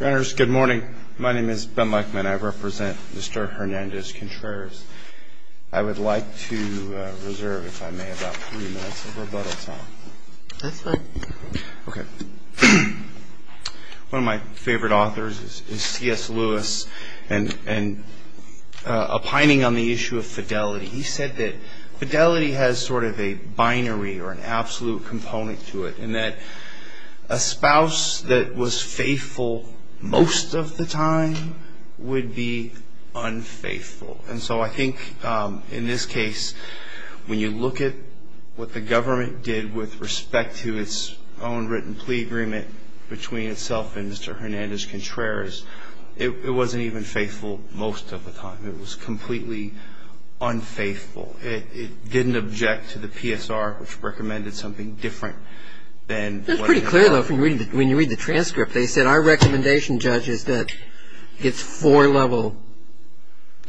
One of my favorite authors is C.S. Lewis, and opining on the issue of fidelity, he said that fidelity has sort of a binary or an absolute component to it, in that a spouse that was faithful most of the time would be unfaithful. And so I think in this case, when you look at what the government did with respect to its own written plea agreement between itself and Mr. Hernandez-Contreras, it wasn't even faithful most of the time. It was completely unfaithful. It didn't object to the PSR, which recommended something different than what it had. But when you read the transcript, they said our recommendation, Judge, is that it's four-level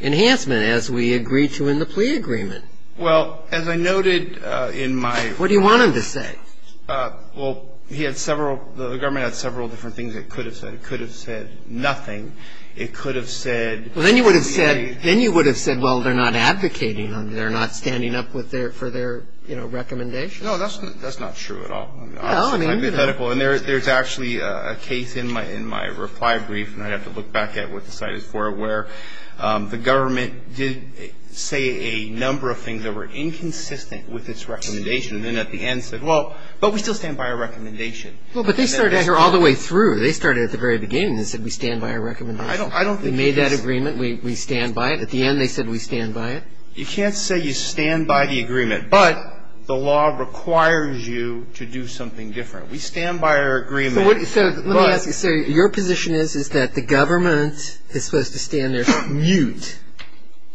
enhancement, as we agreed to in the plea agreement. Well, as I noted in my... What do you want him to say? Well, the government had several different things it could have said. It could have said nothing. It could have said... Well, then you would have said, well, they're not advocating on it. They're not standing up for their recommendation. No, that's not true at all. I mean, you know... It's hypothetical. And there's actually a case in my reply brief, and I'd have to look back at what the site is for, where the government did say a number of things that were inconsistent with its recommendation, and then at the end said, well, but we still stand by our recommendation. Well, but they started out here all the way through. They started at the very beginning and said we stand by our recommendation. I don't think... We made that agreement. We stand by it. At the end, they said we stand by it. You can't say you stand by the agreement, but the law requires you to do something different. We stand by our agreement, but... So let me ask you, sir. Your position is that the government is supposed to stand there mute.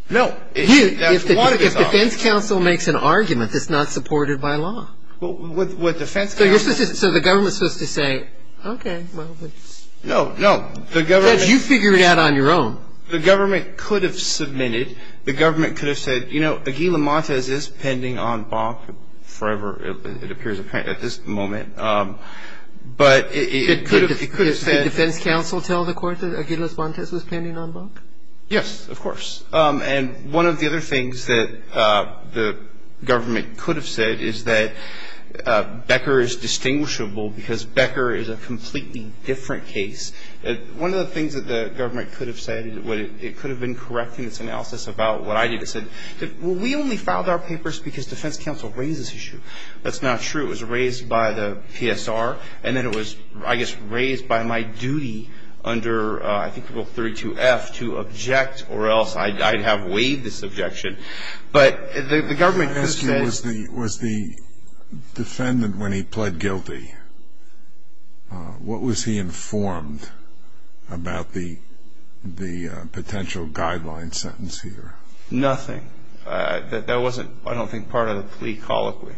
No. Mute. That's what it is. If the defense counsel makes an argument that's not supported by law. With defense counsel... So you're supposed to... So the government's supposed to say, okay, well, it's... No, no. The government... Because you figure it out on your own. The government could have submitted. The government could have said, you know, Aguila Montes is pending on Bach forever, it appears apparent at this moment, but it could have said... Did defense counsel tell the court that Aguila Montes was pending on Bach? Yes, of course. And one of the other things that the government could have said is that Becker is distinguishable because Becker is a completely different case. One of the things that the government could have said, it could have been correcting its analysis about what I did, it said, well, we only filed our papers because defense counsel raised this issue. That's not true. It was raised by the PSR, and then it was, I guess, raised by my duty under I think rule 32F to object or else I'd have waived this objection. But the government... Was the defendant, when he pled guilty, what was he informed about the potential guideline sentence here? Nothing. That wasn't, I don't think, part of the plea colloquy.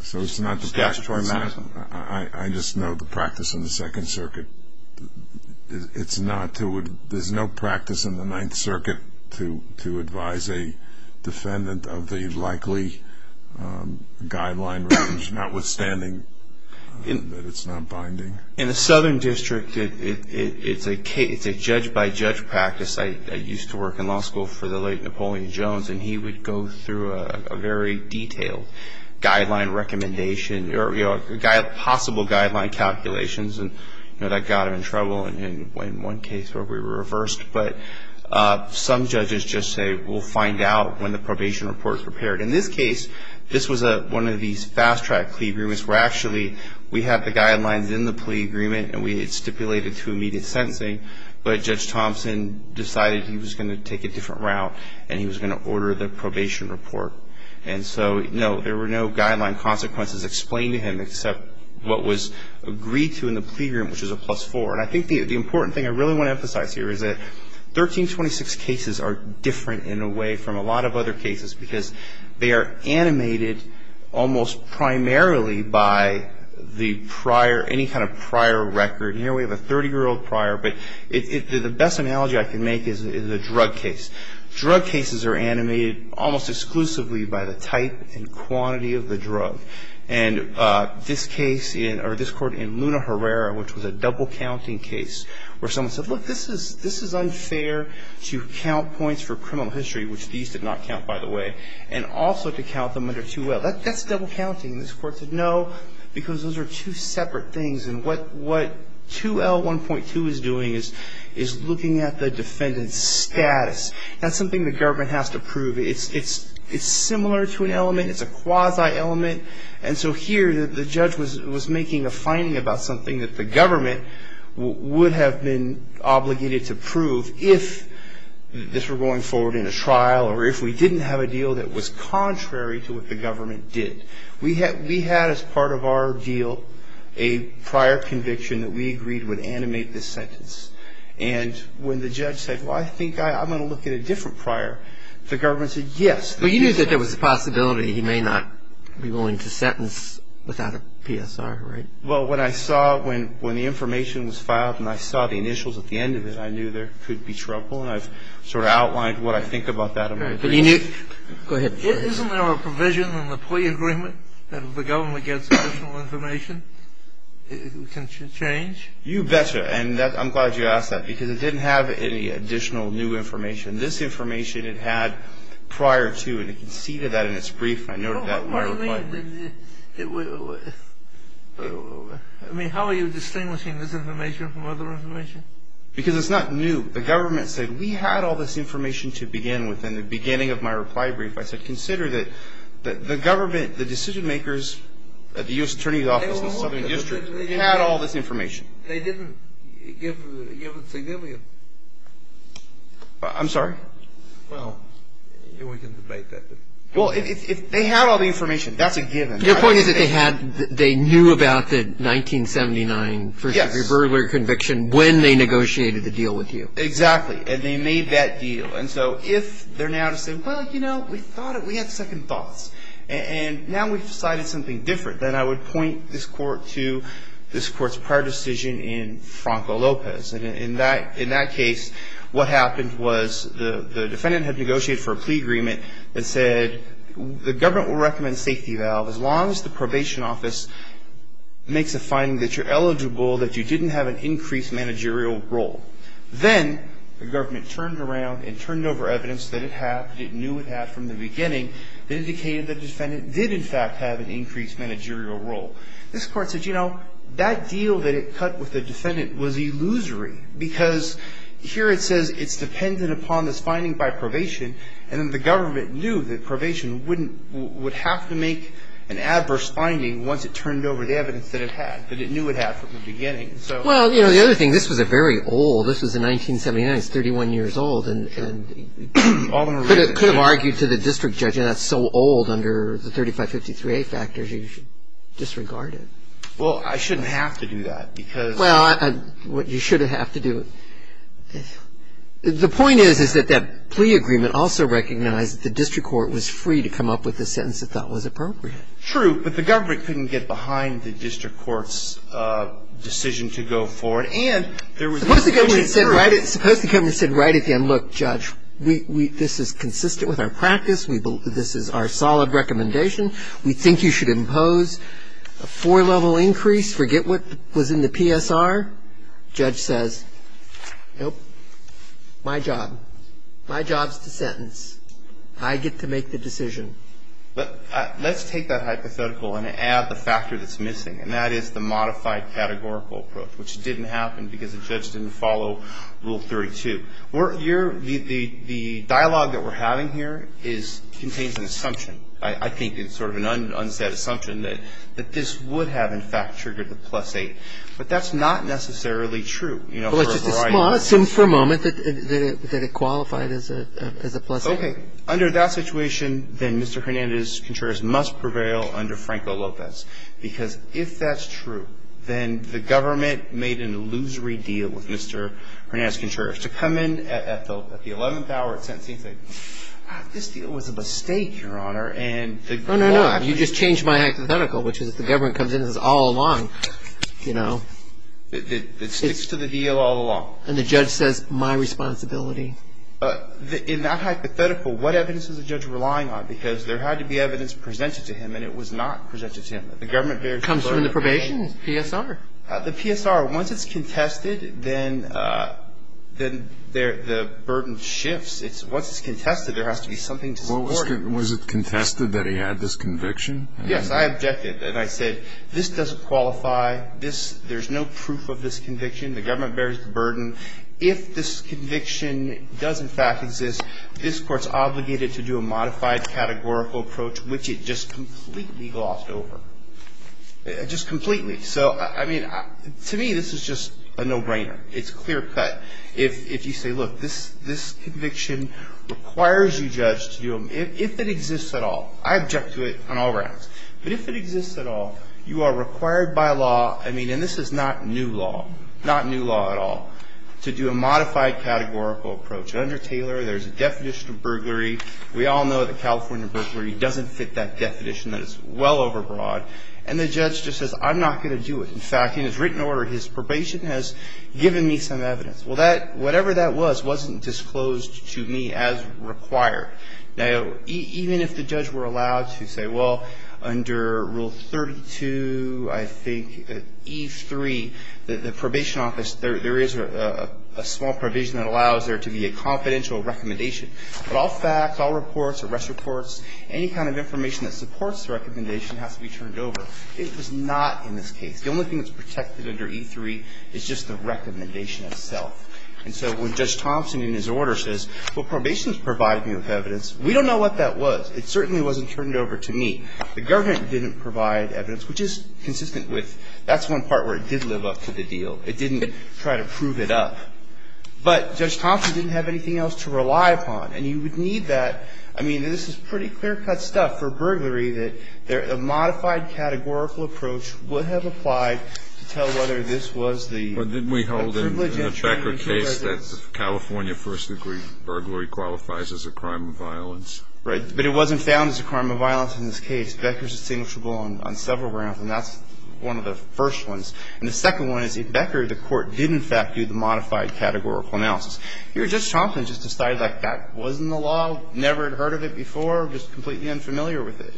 So it's not the... Just statutory maxim. I just know the practice in the Second Circuit. It's not to... There's no practice in the guideline range, notwithstanding that it's not binding. In the Southern District, it's a case, it's a judge-by-judge practice. I used to work in law school for the late Napoleon Jones, and he would go through a very detailed guideline recommendation or possible guideline calculations, and that got him in trouble in one case where we were reversed. But some judges just say, we'll find out when the probation report's prepared. In this case, this was one of these fast-track plea agreements where actually we had the guidelines in the plea agreement and we stipulated to immediate sentencing, but Judge Thompson decided he was going to take a different route and he was going to order the probation report. And so, no, there were no guideline consequences explained to him except what was agreed to in the plea agreement, which is a plus four. And I think the important thing I really want to emphasize here is that 1326 cases are different in a way from a lot of other cases because they are animated almost primarily by the prior, any kind of prior record. Here we have a 30-year-old prior, but the best analogy I can make is the drug case. Drug cases are animated almost exclusively by the type and quantity of the drug. And this case in, or this court in Luna Herrera, which was a double-counting case where someone said, look, this is unfair to count points for criminal history, which these did not count, by the way, and also to count them under 2L. That's double-counting. This court said, no, because those are two separate things and what 2L1.2 is doing is looking at the defendant's status. That's something the government has to prove. It's similar to an element. It's a quasi-element. And so here the judge was making a finding about something that the government would have been obligated to prove if this were going forward in a trial or if we didn't have a deal that was contrary to what the government did. We had, as part of our deal, a prior conviction that we agreed would animate this sentence. And when the judge said, well, I think I'm going to look at a different prior, the government said, yes. But you knew that there was a possibility he may not be willing to sentence without a PSR, right? Well, when I saw, when the information was filed and I saw the initials at the end of it, I knew there could be trouble. And I've sort of outlined what I think about that in my brief. Go ahead. Isn't there a provision in the plea agreement that if the government gets additional information, it can change? You betcha. And I'm glad you asked that, because it didn't have any additional new information. This information it had prior to, and it conceded that in its brief. I noted that in my reply brief. No, what do you mean? I mean, how are you distinguishing this information from other information? Because it's not new. The government said, we had all this information to begin with in the beginning of my reply brief. I said, consider that the government, the decision makers at the U.S. Attorney's Office in the Southern District, they had all this information. They didn't give it significance. I'm sorry? Well, we can debate that. Well, if they had all the information, that's a given. Your point is that they knew about the 1979 first degree burglary conviction when they negotiated the deal with you. Exactly. And they made that deal. And so if they're now to say, well, you know, we had second thoughts. And now we've decided something different, then I would point this court to this court's prior decision in Franco Lopez. And in that case, what happened was the defendant had negotiated for a plea agreement that said the government will recommend safety valve as long as the probation office makes a finding that you're eligible, that you didn't have an increased managerial role. Then the government turned around and turned over evidence that it had, that it knew it had from the beginning, that indicated the defendant did in fact have an increased managerial role. This court said, you know, that deal that it cut with the defendant was illusory because here it says it's dependent upon this finding by probation, and then the government knew that probation would have to make an adverse finding once it turned over the evidence that it had, that it knew it had from the beginning. Well, you know, the other thing, this was a very old, this was in 1979, it's 31 years old, and could have argued to the district judge, and that's so old under the 3553A factors, you should disregard it. Well, I shouldn't have to do that because. Well, you should have to do it. The point is, is that that plea agreement also recognized that the district court was free to come up with a sentence it thought was appropriate. True, but the government couldn't get behind the district court's decision to go forward. And there was. Suppose the government said right at the end, look, Judge, this is consistent with our practice. This is our solid recommendation. We think you should impose a four-level increase. Forget what was in the PSR. Judge says, nope, my job. My job is to sentence. I get to make the decision. Let's take that hypothetical and add the factor that's missing, and that is the modified categorical approach, which didn't happen because the judge didn't follow Rule 32. The dialogue that we're having here is, contains an assumption. I think it's sort of an unsaid assumption that this would have, in fact, triggered the plus eight. But that's not necessarily true, you know, for a variety of reasons. Well, let's just assume for a moment that it qualified as a plus eight. Okay. Under that situation, then Mr. Hernandez-Contreras must prevail under Franco-Lopez because if that's true, then the government made an illusory deal with Mr. Hernandez-Contreras. To come in at the 11th hour, it seems like this deal was a mistake, Your Honor, and the government. No, no, no. It sticks to the deal all along. And the judge says, my responsibility. In that hypothetical, what evidence is the judge relying on? Because there had to be evidence presented to him, and it was not presented to him. It comes from the probation PSR. The PSR, once it's contested, then the burden shifts. Once it's contested, there has to be something to support it. Was it contested that he had this conviction? Yes, I objected. And I said, this doesn't qualify. There's no proof of this conviction. The government bears the burden. If this conviction does, in fact, exist, this court's obligated to do a modified categorical approach, which it just completely glossed over. Just completely. So, I mean, to me, this is just a no-brainer. It's clear cut. If you say, look, this conviction requires you, judge, if it exists at all. I object to it on all grounds. But if it exists at all, you are required by law, I mean, and this is not new law, not new law at all, to do a modified categorical approach. Under Taylor, there's a definition of burglary. We all know that California burglary doesn't fit that definition. That is well over broad. And the judge just says, I'm not going to do it. In fact, in his written order, his probation has given me some evidence. Well, that, whatever that was, wasn't disclosed to me as required. Now, even if the judge were allowed to say, well, under Rule 32, I think, E3, the probation office, there is a small provision that allows there to be a confidential recommendation. But all facts, all reports, arrest reports, any kind of information that supports the recommendation has to be turned over. It was not in this case. The only thing that's protected under E3 is just the recommendation itself. And so when Judge Thompson, in his order, says, well, probation has provided me with evidence, we don't know what that was. It certainly wasn't turned over to me. The government didn't provide evidence, which is consistent with that's one part where it did live up to the deal. It didn't try to prove it up. But Judge Thompson didn't have anything else to rely upon. And you would need that. I mean, this is pretty clear-cut stuff for burglary, that a modified categorical approach would have applied to tell whether this was the privilege of the defendant or not. And I think that's the case that California first-degree burglary qualifies as a crime of violence. Right. But it wasn't found as a crime of violence in this case. Becker's distinguishable on several grounds, and that's one of the first ones. And the second one is if Becker, the Court, did in fact do the modified categorical analysis. Here, Judge Thompson just decided that that wasn't the law, never had heard of it before, just completely unfamiliar with it.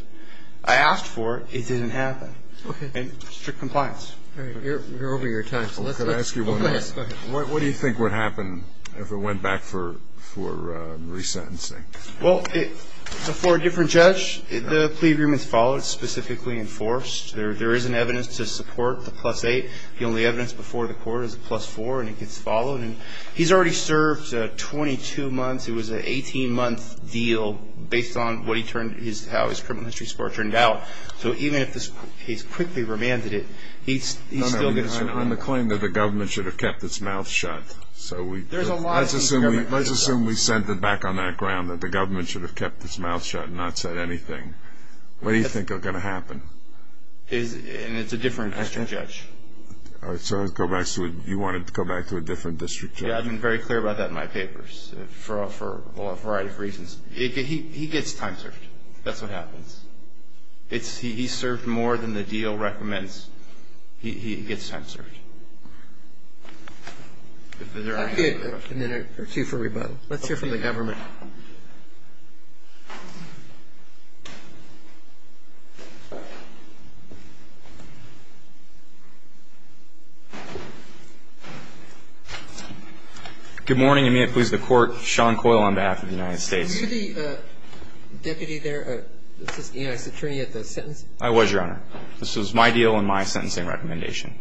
I asked for it. It didn't happen. Okay. And strict compliance. All right. You're over your time. Can I ask you one more? Go ahead. What do you think would happen if it went back for resentencing? Well, for a different judge, the plea agreement is followed. It's specifically enforced. There is an evidence to support the plus 8. The only evidence before the Court is a plus 4, and it gets followed. And he's already served 22 months. It was an 18-month deal based on what he turned his – how his criminal history support turned out. So even if this case quickly remanded it, he still gets – No, no. On the claim that the government should have kept its mouth shut. So we – There's a lot – Let's assume we sent it back on that ground, that the government should have kept its mouth shut and not said anything. What do you think is going to happen? And it's a different district judge. All right. So you want it to go back to a different district judge? Yeah. I've been very clear about that in my papers for a variety of reasons. He gets time-served. That's what happens. It's – he's served more than the deal recommends. He gets time-served. If there are any other questions. I have two for rebuttal. Let's hear from the government. Good morning, and may it please the Court. Sean Coyle on behalf of the United States. Were you the deputy there, the United States Attorney at the sentencing? I was, Your Honor. This was my deal and my sentencing recommendation.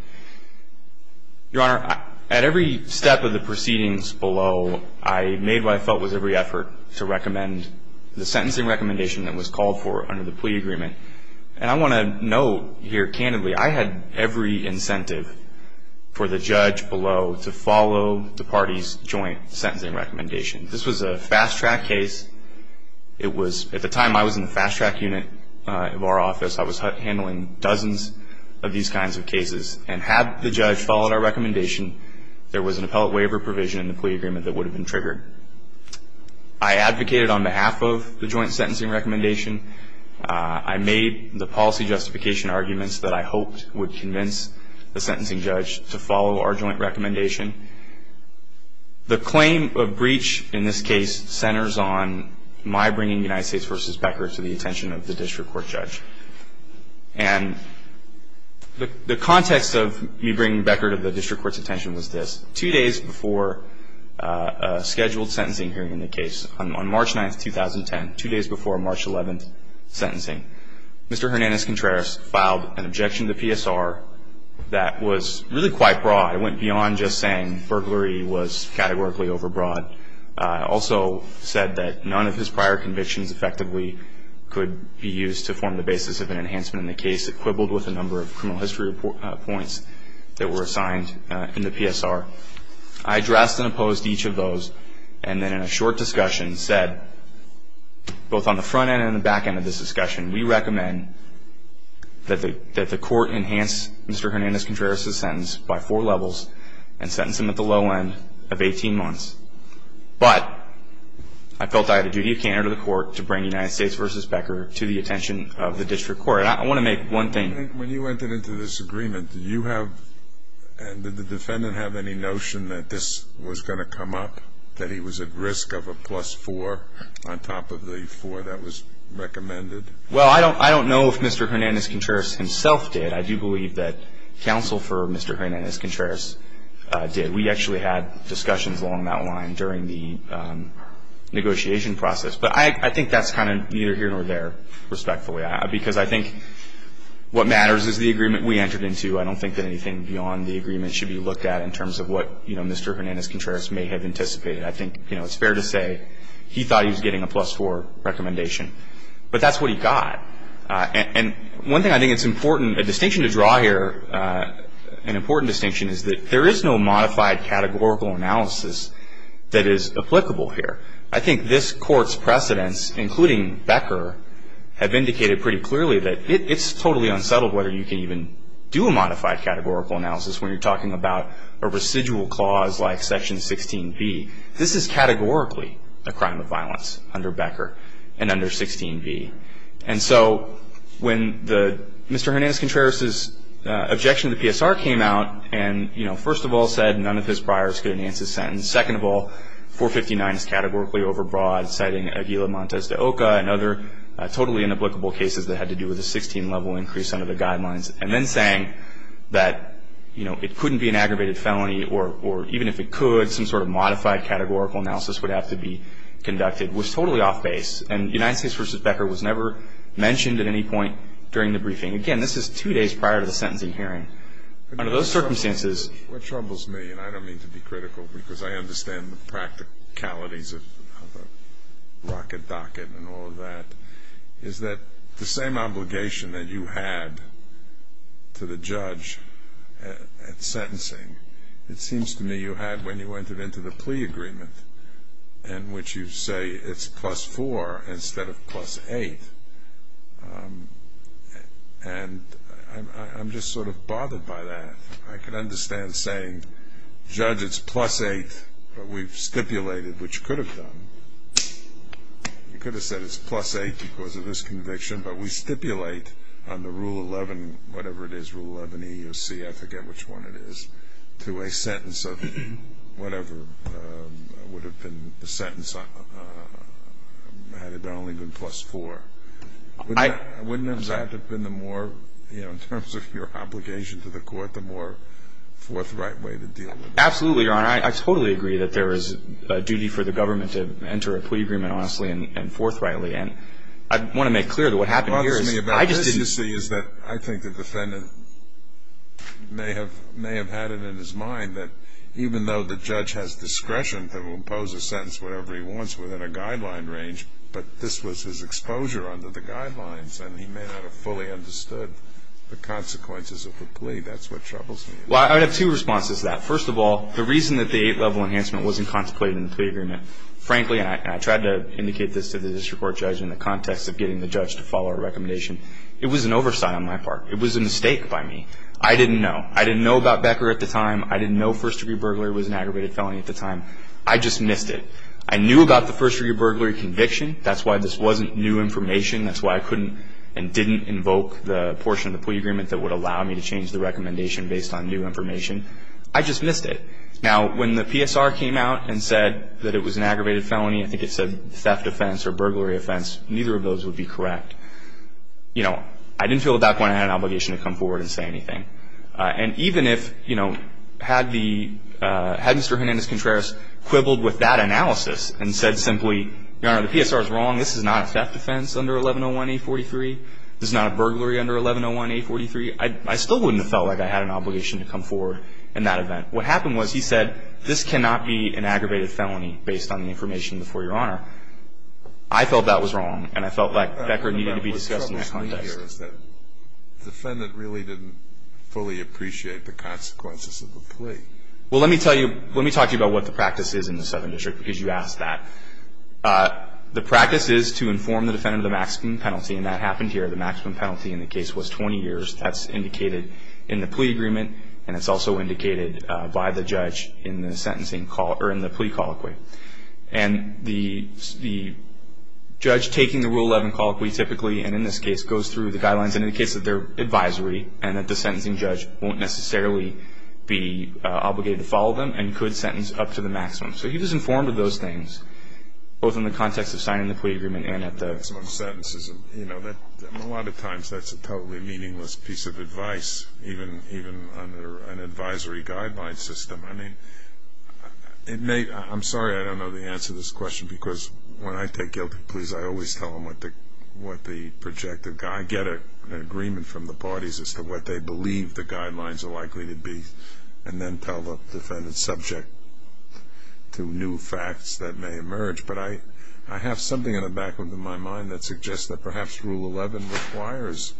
Your Honor, at every step of the proceedings below, I made what I felt was every effort to recommend the sentencing recommendation that was called for under the plea agreement. And I want to note here candidly, I had every incentive for the judge below to follow the party's joint sentencing recommendation. This was a fast-track case. It was – at the time, I was in the fast-track unit of our office. I was handling dozens of these kinds of cases. And had the judge followed our recommendation, there was an appellate waiver provision in the plea agreement that would have been triggered. I advocated on behalf of the joint sentencing recommendation. I made the policy justification arguments that I hoped would convince the sentencing judge to follow our joint recommendation. The claim of breach in this case centers on my bringing United States v. Becker to the attention of the district court judge. And the context of me bringing Becker to the district court's attention was this. Two days before a scheduled sentencing hearing in the case on March 9th, 2010, two days before March 11th sentencing, Mr. Hernandez-Contreras filed an objection to PSR that was really quite broad. It went beyond just saying burglary was categorically overbroad. Also said that none of his prior convictions effectively could be used to form the basis of an enhancement in the case, equippled with a number of criminal history points that were assigned in the PSR. I addressed and opposed each of those. And then in a short discussion said, both on the front end and the back end of this discussion, we recommend that the court enhance Mr. Hernandez-Contreras' sentence by four levels and sentence him at the low end of 18 months. But I felt I had a duty of candor to the court to bring United States v. Becker to the attention of the district court. And I want to make one thing. When you entered into this agreement, did you have and did the defendant have any notion that this was going to come up, that he was at risk of a plus four on top of the four that was recommended? Well, I don't know if Mr. Hernandez-Contreras himself did. I do believe that counsel for Mr. Hernandez-Contreras did. We actually had discussions along that line during the negotiation process. But I think that's kind of neither here nor there, respectfully, because I think what matters is the agreement we entered into. I don't think that anything beyond the agreement should be looked at in terms of what, you know, Mr. Hernandez-Contreras may have anticipated. I think, you know, it's fair to say he thought he was getting a plus four recommendation. But that's what he got. And one thing I think it's important, a distinction to draw here, an important distinction is that there is no modified categorical analysis that is applicable here. I think this court's precedents, including Becker, have indicated pretty clearly that it's totally unsettled whether you can even do a modified categorical analysis when you're talking about a residual clause like Section 16B. This is categorically a crime of violence under Becker and under 16B. And so when Mr. Hernandez-Contreras' objection to the PSR came out and, you know, first of all said none of his priors could enhance his sentence, second of all 459 is categorically overbroad, citing Aguila Montes de Oca and other totally inapplicable cases that had to do with a 16-level increase under the guidelines, and then saying that, you know, it couldn't be an aggravated felony or even if it could, some sort of modified categorical analysis would have to be conducted was totally off-base. And United States v. Becker was never mentioned at any point during the briefing. Again, this is two days prior to the sentencing hearing. Under those circumstances — What troubles me, and I don't mean to be critical because I understand the practicalities of a rocket docket and all of that, is that the same obligation that you had to the judge at sentencing, it seems to me you had when you entered into the plea agreement, in which you say it's plus four instead of plus eight, and I'm just sort of bothered by that. I can understand saying, judge, it's plus eight, but we've stipulated, which you could have done, you could have said it's plus eight because of this conviction, but we stipulate on the Rule 11, whatever it is, Rule 11E or C, I forget which one it is, to a sentence of whatever would have been the sentence had it only been plus four. Wouldn't that have been the more, you know, in terms of your obligation to the court, the more forthright way to deal with it? Absolutely, Your Honor. I totally agree that there is a duty for the government to enter a plea agreement honestly and forthrightly. And I want to make clear that what happened here is — may have had it in his mind that even though the judge has discretion to impose a sentence, whatever he wants, within a guideline range, but this was his exposure under the guidelines and he may not have fully understood the consequences of the plea. That's what troubles me. Well, I would have two responses to that. First of all, the reason that the eight-level enhancement wasn't contemplated in the plea agreement, frankly, and I tried to indicate this to the district court judge in the context of getting the judge to follow a recommendation, it was an oversight on my part. It was a mistake by me. I didn't know. I didn't know about Becker at the time. I didn't know first-degree burglary was an aggravated felony at the time. I just missed it. I knew about the first-degree burglary conviction. That's why this wasn't new information. That's why I couldn't and didn't invoke the portion of the plea agreement that would allow me to change the recommendation based on new information. I just missed it. Now, when the PSR came out and said that it was an aggravated felony, I think it said theft offense or burglary offense, neither of those would be correct. You know, I didn't feel at that point I had an obligation to come forward and say anything. And even if, you know, had Mr. Hernandez-Contreras quibbled with that analysis and said simply, Your Honor, the PSR is wrong. This is not a theft offense under 1101A43. This is not a burglary under 1101A43. I still wouldn't have felt like I had an obligation to come forward in that event. What happened was he said, this cannot be an aggravated felony based on the information before Your Honor. I felt that was wrong, and I felt like Becker needed to be discussed in that context. What's troubling me here is that the defendant really didn't fully appreciate the consequences of the plea. Well, let me tell you, let me talk to you about what the practice is in the Southern District, because you asked that. The practice is to inform the defendant of the maximum penalty, and that happened here. The maximum penalty in the case was 20 years. That's indicated in the plea agreement, and it's also indicated by the judge in the sentencing call or in the plea colloquy. And the judge taking the Rule 11 call or plea typically, and in this case, goes through the guidelines and indicates that they're advisory and that the sentencing judge won't necessarily be obligated to follow them and could sentence up to the maximum. So he was informed of those things, both in the context of signing the plea agreement and at the maximum sentences. You know, a lot of times that's a totally meaningless piece of advice, even under an advisory guideline system. I mean, I'm sorry I don't know the answer to this question, because when I take guilty pleas, I always tell them what the projected guide, get an agreement from the parties as to what they believe the guidelines are likely to be and then tell the defendant subject to new facts that may emerge. But I have something in the back of my mind that suggests that perhaps Rule 11 requires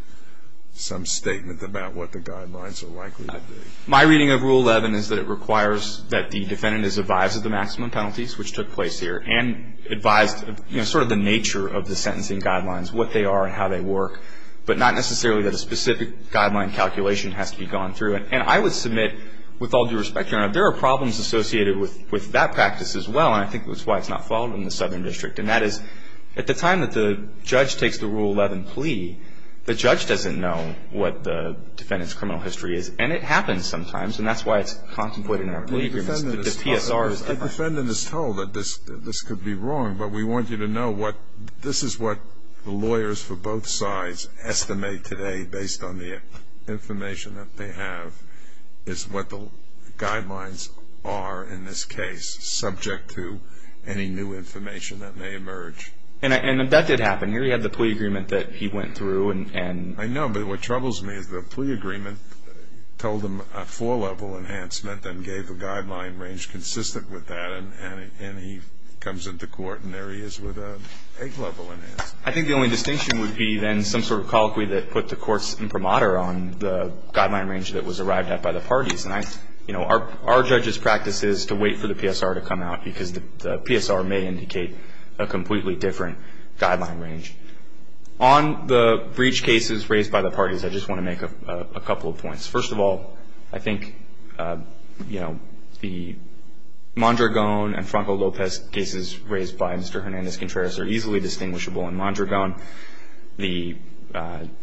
some statement about what the guidelines are likely to be. My reading of Rule 11 is that it requires that the defendant is advised of the maximum penalties, which took place here, and advised of sort of the nature of the sentencing guidelines, what they are and how they work, but not necessarily that a specific guideline calculation has to be gone through. And I would submit, with all due respect, there are problems associated with that practice as well, and I think that's why it's not followed in the Southern District. And that is, at the time that the judge takes the Rule 11 plea, the judge doesn't know what the defendant's criminal history is. And it happens sometimes, and that's why it's contemplated in our plea agreements. The defendant is told that this could be wrong, but we want you to know this is what the lawyers for both sides estimate today, based on the information that they have, is what the guidelines are in this case, subject to any new information that may emerge. And that did happen. Here you have the plea agreement that he went through. I know, but what troubles me is the plea agreement told him a four-level enhancement and gave a guideline range consistent with that, and he comes into court and there he is with an eight-level enhancement. I think the only distinction would be then some sort of colloquy that put the courts imprimatur on the guideline range that was arrived at by the parties. And, you know, our judge's practice is to wait for the PSR to come out, because the PSR may indicate a completely different guideline range. On the breach cases raised by the parties, I just want to make a couple of points. First of all, I think, you know, the Mondragon and Franco Lopez cases raised by Mr. Hernandez-Contreras are easily distinguishable. In Mondragon, the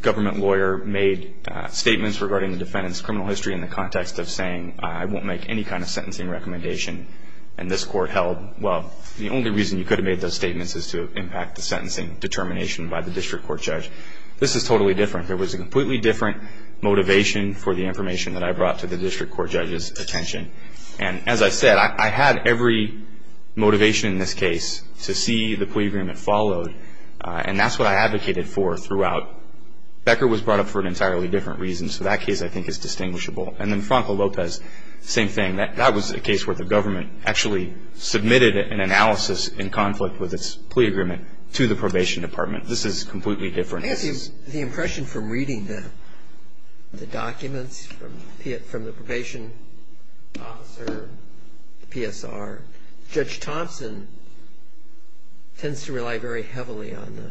government lawyer made statements regarding the defendant's criminal history in the context of saying, I won't make any kind of sentencing recommendation. And this court held, well, the only reason you could have made those statements is to impact the sentencing determination by the district court judge. This is totally different. There was a completely different motivation for the information that I brought to the district court judge's attention. And as I said, I had every motivation in this case to see the plea agreement followed, and that's what I advocated for throughout. Becker was brought up for an entirely different reason, so that case I think is distinguishable. And then Franco Lopez, same thing. That was a case where the government actually submitted an analysis in conflict with its plea agreement to the probation department. This is completely different. I guess the impression from reading the documents from the probation officer, PSR, Judge Thompson tends to rely very heavily on the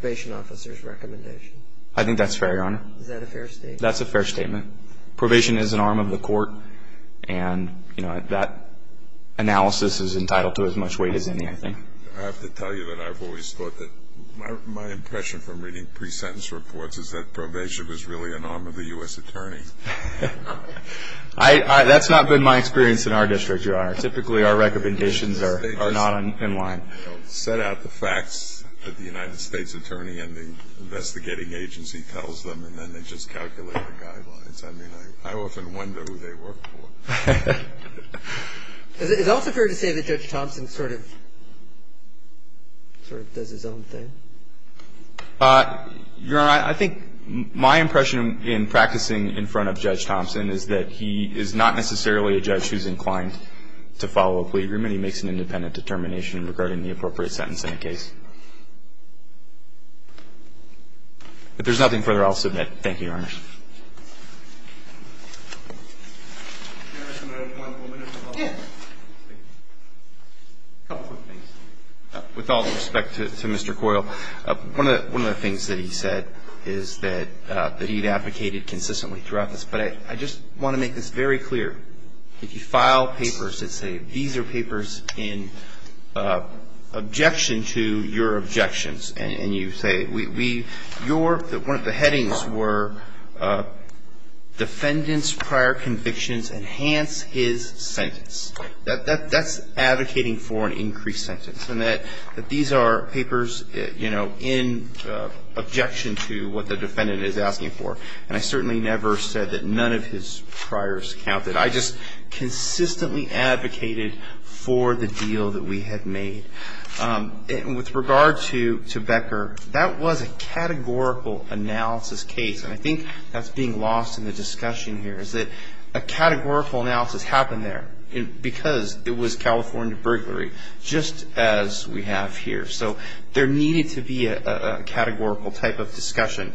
probation officer's recommendation. I think that's fair, Your Honor. Is that a fair statement? That's a fair statement. Probation is an arm of the court, and, you know, that analysis is entitled to as much weight as any, I think. I have to tell you that I've always thought that my impression from reading pre-sentence reports is that probation was really an arm of the U.S. attorney. That's not been my experience in our district, Your Honor. Typically our recommendations are not in line. They set out the facts that the United States attorney and the investigating agency tells them, and then they just calculate the guidelines. I mean, I often wonder who they work for. Is it also fair to say that Judge Thompson sort of does his own thing? Your Honor, I think my impression in practicing in front of Judge Thompson is that he is not necessarily a judge who's inclined to follow a plea agreement. He makes an independent determination regarding the appropriate sentence in a case. If there's nothing further, I'll submit. Thank you, Your Honor. A couple quick things. With all due respect to Mr. Coyle, one of the things that he said is that he had advocated consistently throughout this. But I just want to make this very clear. And you say we, your, one of the headings were defendants' prior convictions enhance his sentence. That's advocating for an increased sentence, and that these are papers, you know, in objection to what the defendant is asking for. And I certainly never said that none of his priors counted. I just consistently advocated for the deal that we had made. And with regard to Becker, that was a categorical analysis case. And I think that's being lost in the discussion here is that a categorical analysis happened there because it was California burglary, just as we have here. So there needed to be a categorical type of discussion.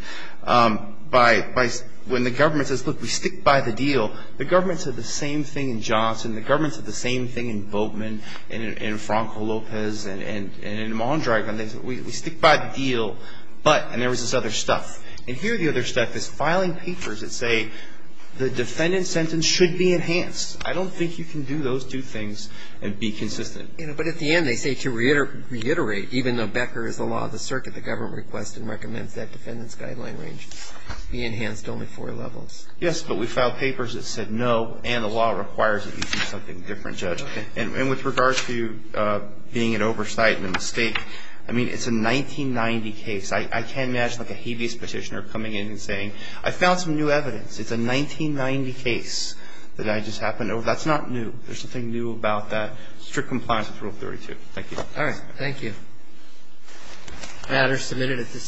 When the government says, look, we stick by the deal, the government said the same thing in Johnson. The government said the same thing in Boatman and in Franco Lopez and in Mondragon. They said we stick by the deal, but, and there was this other stuff. And here the other stuff is filing papers that say the defendant's sentence should be enhanced. I don't think you can do those two things and be consistent. But at the end they say to reiterate, even though Becker is the law of the circuit, the government requests and recommends that defendant's guideline range be enhanced to only four levels. Yes, but we filed papers that said no, and the law requires that you do something different, Judge. And with regard to being an oversight and a mistake, I mean, it's a 1990 case. I can't imagine like a habeas petitioner coming in and saying, I found some new evidence. It's a 1990 case that I just happened over. That's not new. There's something new about that. Strict compliance with Rule 32. Thank you. All right. Thank you. Matters submitted at this time.